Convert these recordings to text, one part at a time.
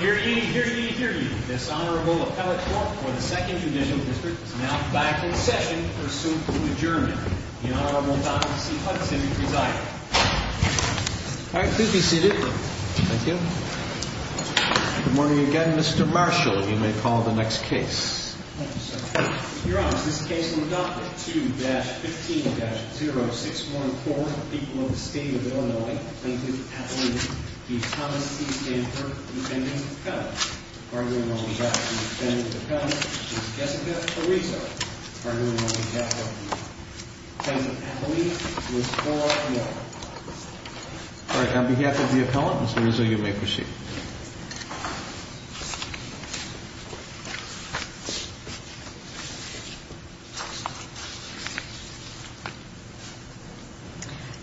Here ye, here ye, here ye. This Honorable Appellate Court for the 2nd Judicial District is now back in session for soon to adjournment. The Honorable Dr. C. Hudson presiding. All right, please be seated. Thank you. Good morning again, Mr. Marshall. You may call the next case. Your Honor, this case will be adopted. 2-15-0614, the people of the state of Illinois, Plaintiff Appellee D. Thomas C. Stanford, Defendant Appellate. Arguing on behalf of the Defendant Appellate is Jessica Theresa. Arguing on behalf of the Plaintiff Appellee is Laura Moore. All right, on behalf of the Appellant, Ms. Arezzo, you may proceed.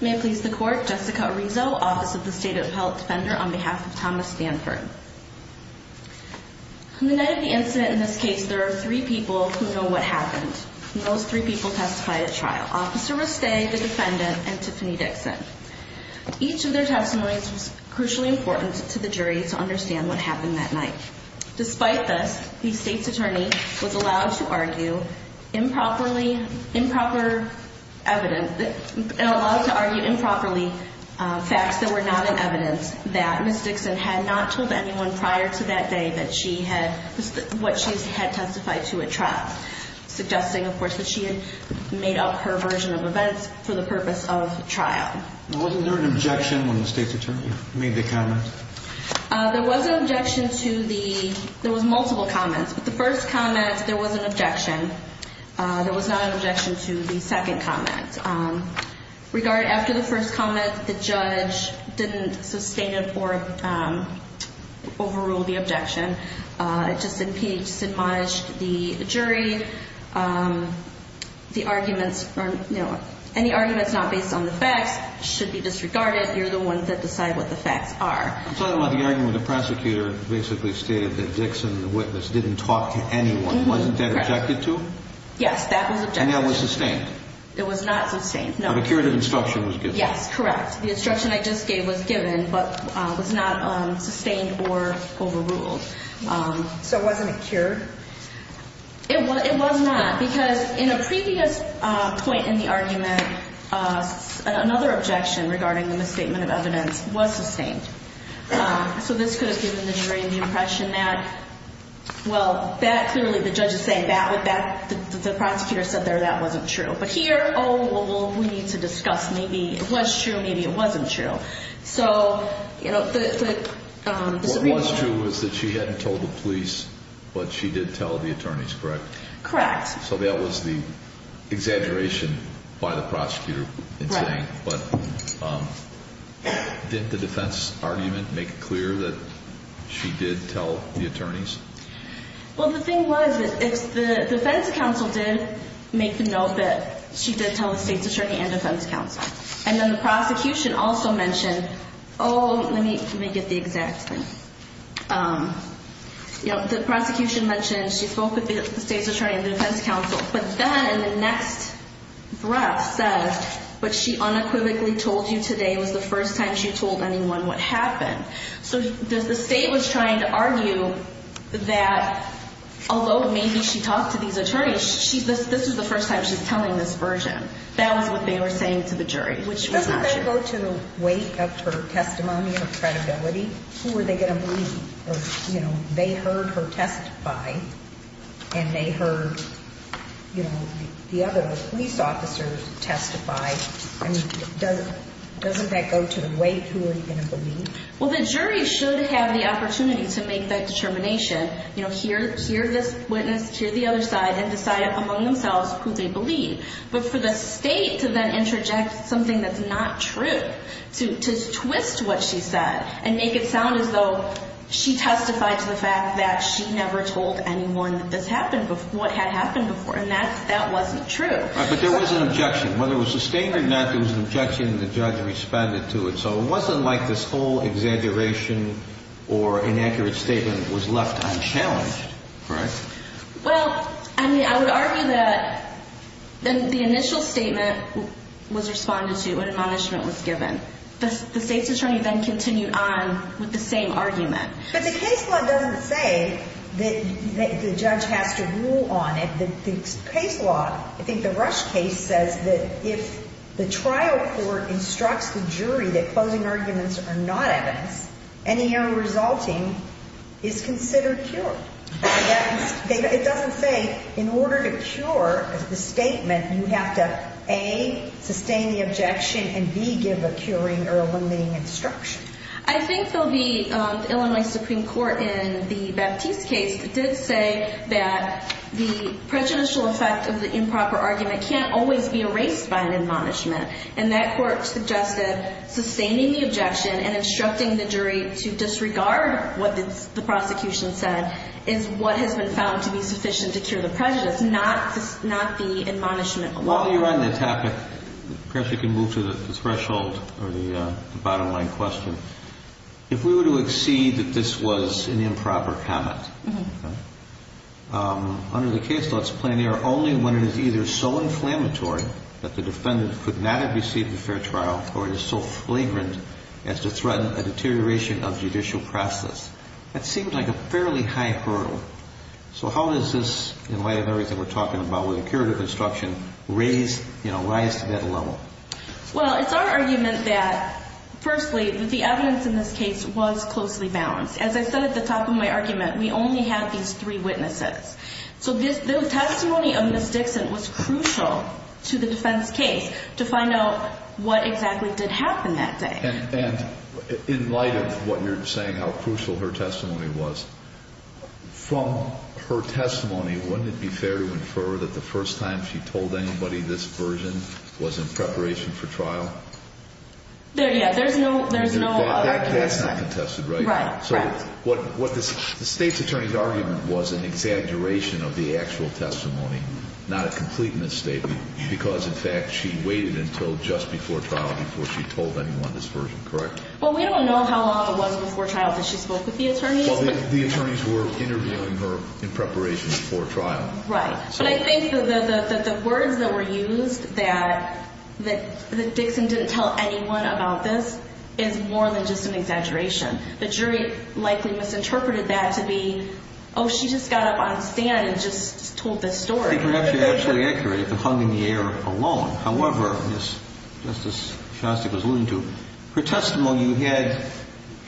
May it please the Court, Jessica Arezzo, Office of the State Appellate Defender, on behalf of Thomas Stanford. On the night of the incident, in this case, there are three people who know what happened. And those three people testified at trial, Officer Rustay, the Defendant, and Tiffany Dixon. Each of their testimonies was crucially important to the jury to understand what happened that night. There was no mention of anyone prior to that day that she had, what she had testified to at trial. Suggesting, of course, that she had made up her version of events for the purpose of trial. Wasn't there an objection when the State's Attorney made the comment? There was an objection to the, there was multiple comments. But the first comment, there was an objection. There was not an objection to the second comment. After the first comment, the judge didn't sustain it or overrule the objection. It just impugned the jury. The arguments, you know, any arguments not based on the facts should be disregarded. You're the ones that decide what the facts are. I'm talking about the argument the prosecutor basically stated that Dixon, the witness, didn't talk to anyone. Wasn't that objected to? Yes, that was objected to. And that was sustained? It was not sustained, no. But a curative instruction was given? Yes, correct. The instruction I just gave was given, but was not sustained or overruled. So wasn't it cured? It was not, because in a previous point in the argument, another objection regarding the misstatement of evidence was sustained. So this could have given the jury the impression that, well, that clearly, the judge is saying that, the prosecutor said there that wasn't true. But here, oh, well, we need to discuss, maybe it was true, maybe it wasn't true. So, you know, the disagreement. What was true was that she hadn't told the police, but she did tell the attorneys, correct? Correct. So that was the exaggeration by the prosecutor in saying, but didn't the defense argument make it clear that she did tell the attorneys? Well, the thing was, the defense counsel did make the note that she did tell the state's attorney and defense counsel. And then the prosecution also mentioned, oh, let me get the exact thing. You know, the prosecution mentioned she spoke with the state's attorney and the defense counsel, but then in the next breath said, but she unequivocally told you today was the first time she told anyone what happened. So the state was trying to argue that, although maybe she talked to these attorneys, this is the first time she's telling this version. That was what they were saying to the jury, which was not true. Doesn't that go to the weight of her testimony and her credibility? Who were they going to believe? They heard her testify and they heard the other police officers testify. I mean, doesn't that go to the weight? Who are you going to believe? Well, the jury should have the opportunity to make that determination. Hear this witness, hear the other side, and decide among themselves who they believe. But for the state to then interject something that's not true, to twist what she said and make it sound as though she testified to the fact that she never told anyone what had happened before, and that wasn't true. But there was an objection. Whether it was sustained or not, there was an objection, and the judge responded to it. So it wasn't like this whole exaggeration or inaccurate statement was left unchallenged, right? Well, I mean, I would argue that the initial statement was responded to, an admonishment was given. The state's attorney then continued on with the same argument. But the case law doesn't say that the judge has to rule on it. The case law, I think the Rush case says that if the trial court instructs the jury that closing arguments are not evidence, any error resulting is considered pure. It doesn't say in order to cure the statement, you have to, A, sustain the objection, and, B, give a curing or eliminating instruction. I think there will be the Illinois Supreme Court in the Baptiste case that did say that the prejudicial effect of the improper argument can't always be erased by an admonishment. And that court suggested sustaining the objection and instructing the jury to disregard what the prosecution said is what has been found to be sufficient to cure the prejudice, not the admonishment alone. While you're on the topic, perhaps we can move to the threshold or the bottom line question. If we were to accede that this was an improper comment, under the case law, when it is either so inflammatory that the defendant could not have received a fair trial, or it is so flagrant as to threaten a deterioration of judicial process, that seems like a fairly high hurdle. So how does this, in light of everything we're talking about with the curative instruction, raise, you know, rise to that level? Well, it's our argument that, firstly, that the evidence in this case was closely balanced. As I said at the top of my argument, we only have these three witnesses. So the testimony of Ms. Dixon was crucial to the defense case to find out what exactly did happen that day. And in light of what you're saying, how crucial her testimony was, from her testimony, wouldn't it be fair to infer that the first time she told anybody this version was in preparation for trial? There, yeah, there's no argument. That's not contested, right? Right, right. The State's attorney's argument was an exaggeration of the actual testimony, not a complete misstatement, because, in fact, she waited until just before trial before she told anyone this version, correct? Well, we don't know how long it was before trial that she spoke with the attorneys. Well, the attorneys were interviewing her in preparation for trial. Right. But I think that the words that were used, that Dixon didn't tell anyone about this, is more than just an exaggeration. The jury likely misinterpreted that to be, oh, she just got up on the stand and just told this story. I think we're actually absolutely accurate if it hung in the air alone. However, as Justice Shostak was alluding to, her testimony you had,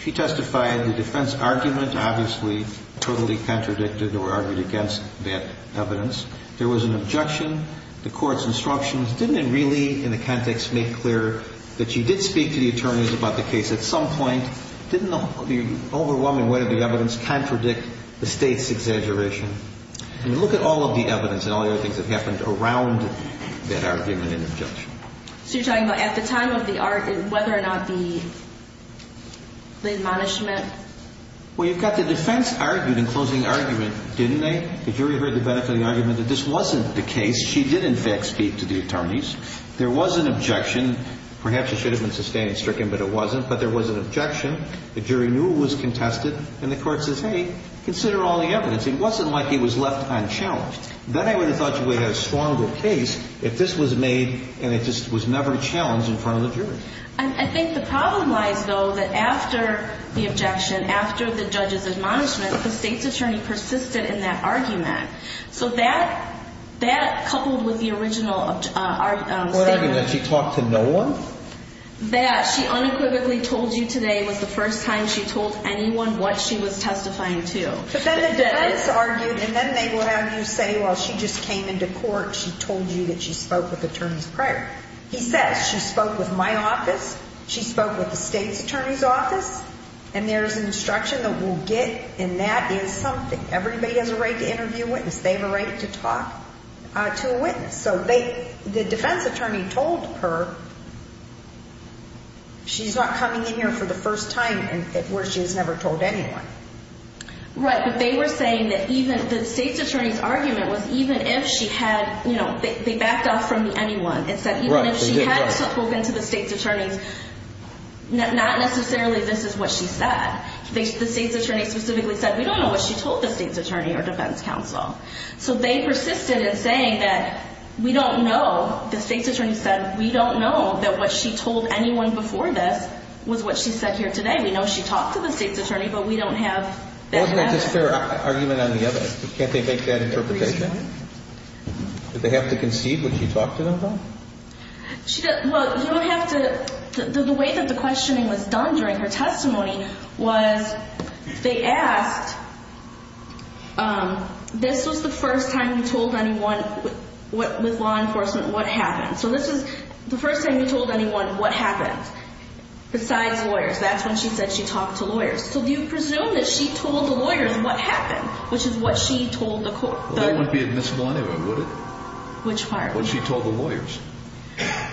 she testified, the defense argument obviously totally contradicted or argued against that evidence. There was an objection. The court's instructions didn't really, in the context, make clear that she did speak to the attorneys about the case at some point. Didn't the overwhelming weight of the evidence contradict the state's exaggeration? I mean, look at all of the evidence and all the other things that happened around that argument and objection. So you're talking about at the time of the argument, whether or not the admonishment? Well, you've got the defense argued in closing argument, didn't they? The jury heard the benefit of the argument that this wasn't the case. She did, in fact, speak to the attorneys. There was an objection. Perhaps it should have been sustained and stricken, but it wasn't. But there was an objection. The jury knew it was contested, and the court says, hey, consider all the evidence. It wasn't like it was left unchallenged. Then I would have thought she would have had a stronger case if this was made and it just was never challenged in front of the jury. I think the problem lies, though, that after the objection, after the judge's admonishment, the state's attorney persisted in that argument. So that coupled with the original statement. What argument? She talked to no one? That she unequivocally told you today was the first time she told anyone what she was testifying to. But then the defense argued, and then they would have you say, well, she just came into court, she told you that she spoke with attorneys prior. He says, she spoke with my office, she spoke with the state's attorney's office, and there's instruction that we'll get, and that is something. Everybody has a right to interview a witness. They have a right to talk to a witness. So the defense attorney told her she's not coming in here for the first time where she has never told anyone. Right, but they were saying that even the state's attorney's argument was even if she had, you know, they backed off from anyone and said even if she had spoken to the state's attorney, not necessarily this is what she said. The state's attorney specifically said we don't know what she told the state's attorney or defense counsel. So they persisted in saying that we don't know, the state's attorney said, we don't know that what she told anyone before this was what she said here today. We know she talked to the state's attorney, but we don't have that evidence. Wasn't that just their argument on the evidence? Can't they make that interpretation? Did they have to concede when she talked to them, though? Well, you don't have to. The way that the questioning was done during her testimony was they asked, this was the first time you told anyone with law enforcement what happened. So this is the first time you told anyone what happened besides lawyers. That's when she said she talked to lawyers. So you presume that she told the lawyers what happened, which is what she told the court. That wouldn't be admissible anyway, would it? Which part? What she told the lawyers.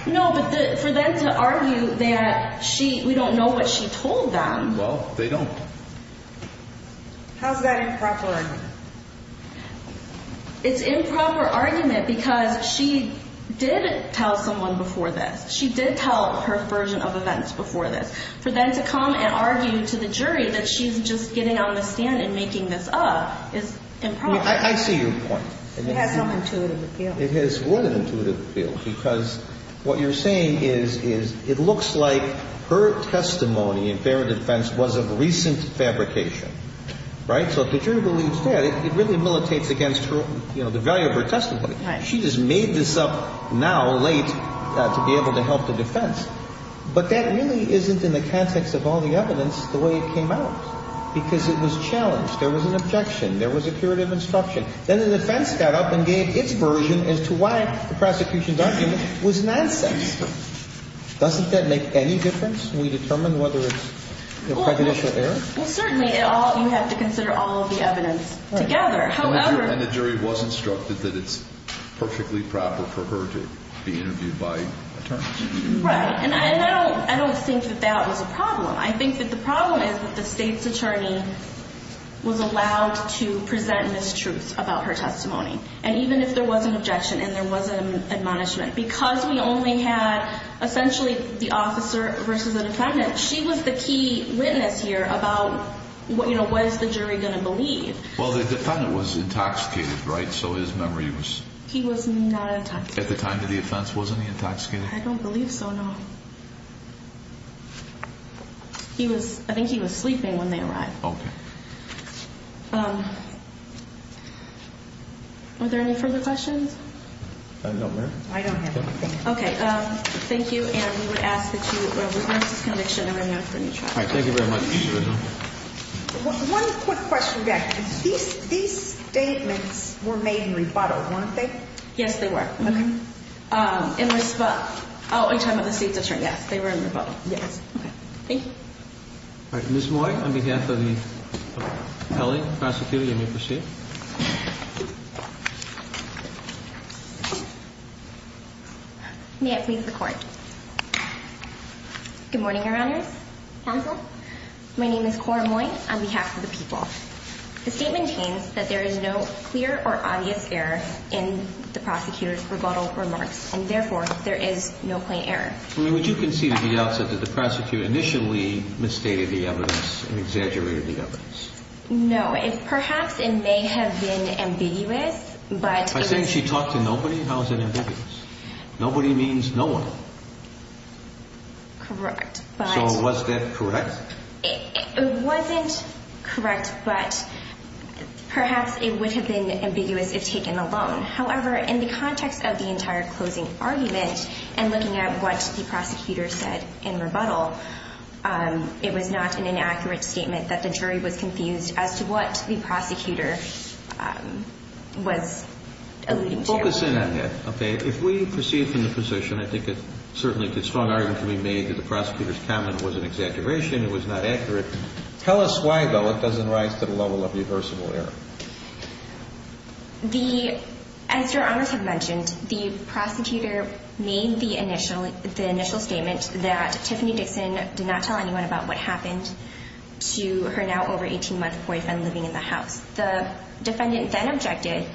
No, but for them to argue that we don't know what she told them. Well, they don't. How is that improper argument? It's improper argument because she did tell someone before this. She did tell her version of events before this. For them to come and argue to the jury that she's just getting on the stand and making this up is improper. I see your point. It has no intuitive appeal. It has more than intuitive appeal because what you're saying is it looks like her testimony in fair defense was of recent fabrication. Right? So if the jury believes that, it really militates against the value of her testimony. Right. She just made this up now, late, to be able to help the defense. But that really isn't in the context of all the evidence the way it came out because it was challenged. There was an objection. There was a curative instruction. Then the defense got up and gave its version as to why the prosecution's argument was nonsense. Doesn't that make any difference when we determine whether it's prejudice or error? Well, certainly you have to consider all of the evidence together. However — And the jury was instructed that it's perfectly proper for her to be interviewed by attorneys. Right. And I don't think that that was a problem. I think that the problem is that the state's attorney was allowed to present mistruths about her testimony. And even if there was an objection and there was an admonishment, because we only had essentially the officer versus the defendant, she was the key witness here about, you know, what is the jury going to believe. Well, the defendant was intoxicated, right? So his memory was — He was not intoxicated. At the time of the offense, wasn't he intoxicated? I don't believe so, no. He was — I think he was sleeping when they arrived. Okay. Are there any further questions? No, ma'am. I don't have anything. Okay. Thank you. And we would ask that you reverse this conviction and bring it on for a new trial. All right. Thank you very much. One quick question back. These statements were made in rebuttal, weren't they? Yes, they were. Okay. In resp— Oh, in terms of the state's attorney, yes. They were in rebuttal. Yes. Okay. Thank you. All right. Ms. Moy, on behalf of the L.A. prosecutor, you may proceed. May I please record? Good morning, Your Honors. Counsel. My name is Cora Moy on behalf of the people. The statement claims that there is no clear or obvious error in the prosecutor's rebuttal remarks, and therefore, there is no plain error. Would you concede to the outset that the prosecutor initially misstated the evidence and exaggerated the evidence? No. Perhaps it may have been ambiguous, but— By saying she talked to nobody, how is it ambiguous? Nobody means no one. Correct, but— So was that correct? It wasn't correct, but perhaps it would have been ambiguous if taken alone. However, in the context of the entire closing argument and looking at what the prosecutor said in rebuttal, it was not an inaccurate statement that the jury was confused as to what the prosecutor was alluding to. Focus in on that. Okay. If we proceed from the position, I think it's certainly a strong argument to be made that the prosecutor's comment was an exaggeration, it was not accurate. Tell us why, though, it doesn't rise to the level of reversible error. As Your Honors have mentioned, the prosecutor made the initial statement that Tiffany Dixon did not tell anyone about what happened to her now over-18-month boyfriend living in the house. The defendant then objected.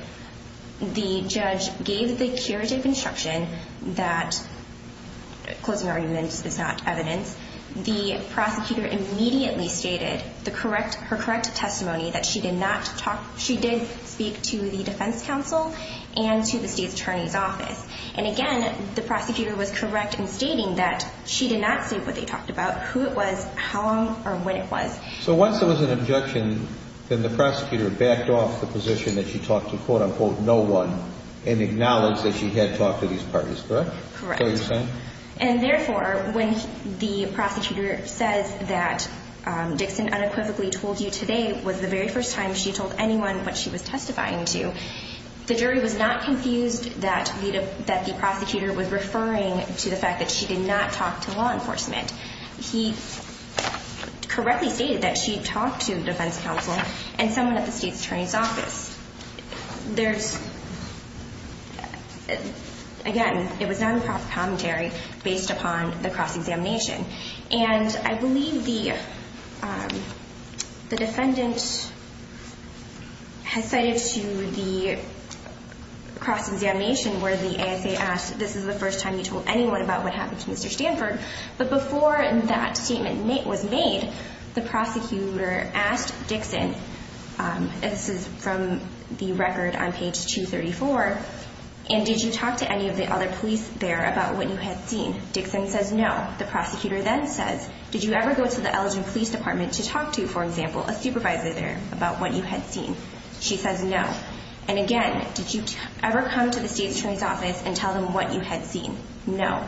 The judge gave the curative instruction that closing arguments is not evidence. The prosecutor immediately stated her correct testimony that she did not talk— she did speak to the defense counsel and to the state attorney's office. And again, the prosecutor was correct in stating that she did not say what they talked about, who it was, how long, or when it was. So once there was an objection, then the prosecutor backed off the position that she talked to quote-unquote no one and acknowledged that she had talked to these parties, correct? Correct. So you're saying— And therefore, when the prosecutor says that Dixon unequivocally told you today was the very first time she told anyone what she was testifying to, the jury was not confused that the prosecutor was referring to the fact that she did not talk to law enforcement. He correctly stated that she talked to the defense counsel and someone at the state attorney's office. There's—again, it was non-profit commentary based upon the cross-examination. And I believe the defendant has cited to the cross-examination where the ASA asked, this is the first time you told anyone about what happened to Mr. Stanford. But before that statement was made, the prosecutor asked Dixon— this is from the record on page 234— and did you talk to any of the other police there about what you had seen? Dixon says no. The prosecutor then says, did you ever go to the Ellington Police Department to talk to, for example, a supervisor there about what you had seen? She says no. And again, did you ever come to the state attorney's office and tell them what you had seen? No.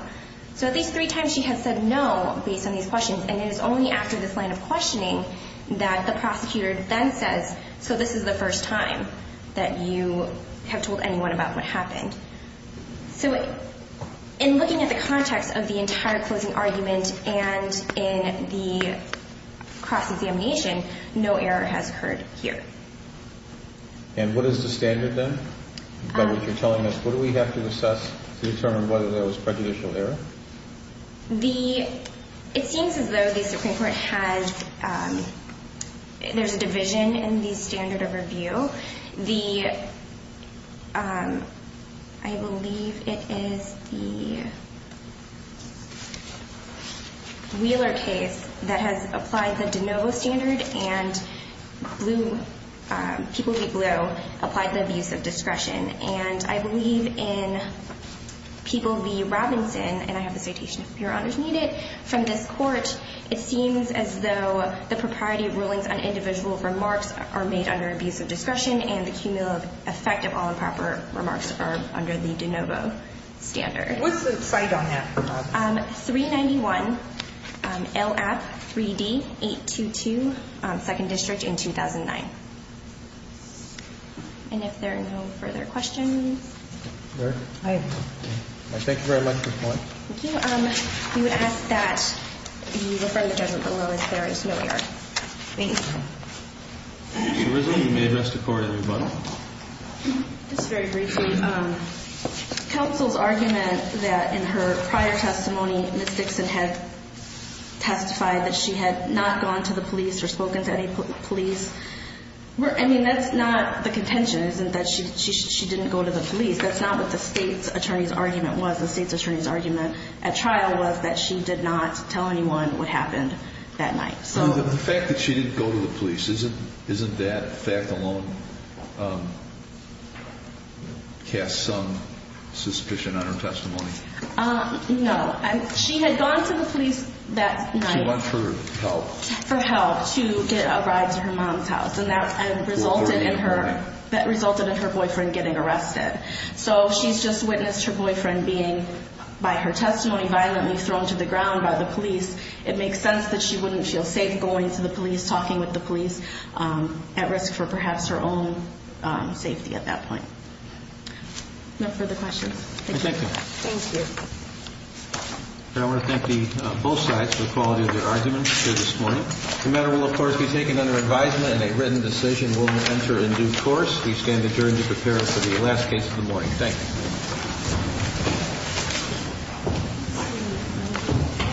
So at least three times she has said no based on these questions, and it is only after this line of questioning that the prosecutor then says, so this is the first time that you have told anyone about what happened. So in looking at the context of the entire closing argument and in the cross-examination, no error has occurred here. And what is the standard then? By what you're telling us, what do we have to assess to determine whether there was prejudicial error? The—it seems as though the Supreme Court has—there's a division in the standard of review. The—I believe it is the Wheeler case that has applied the de novo standard and people v. Blue applied the abuse of discretion. And I believe in people v. Robinson, and I have a citation, if Your Honors need it, from this court, it seems as though the propriety of rulings on individual remarks are made under abuse of discretion and the cumulative effect of all improper remarks are under the de novo standard. What's the cite on that? 391 LAPP 3D 822, 2nd District in 2009. And if there are no further questions? All right. Thank you very much for your time. Thank you. We would ask that you refer the judgment below as very similar. Thank you. Ms. Rizzo, you may address the court, everybody. It's very brief. Counsel's argument that in her prior testimony, Ms. Dixon had testified that she had not gone to the police or spoken to any police, I mean, that's not the contention, isn't it, that she didn't go to the police? That's not what the State's attorney's argument was. The State's attorney's argument at trial was that she did not tell anyone what happened that night. The fact that she didn't go to the police, isn't that fact alone cast some suspicion on her testimony? No. She had gone to the police that night. She went for help. For help to get a ride to her mom's house, and that resulted in her boyfriend getting arrested. So she's just witnessed her boyfriend being, by her testimony, violently thrown to the ground by the police. It makes sense that she wouldn't feel safe going to the police, talking with the police, at risk for perhaps her own safety at that point. No further questions? Thank you. Thank you. I want to thank both sides for the quality of their arguments here this morning. The matter will, of course, be taken under advisement and a written decision will enter into force. We stand adjourned to prepare for the last case of the morning. Thank you.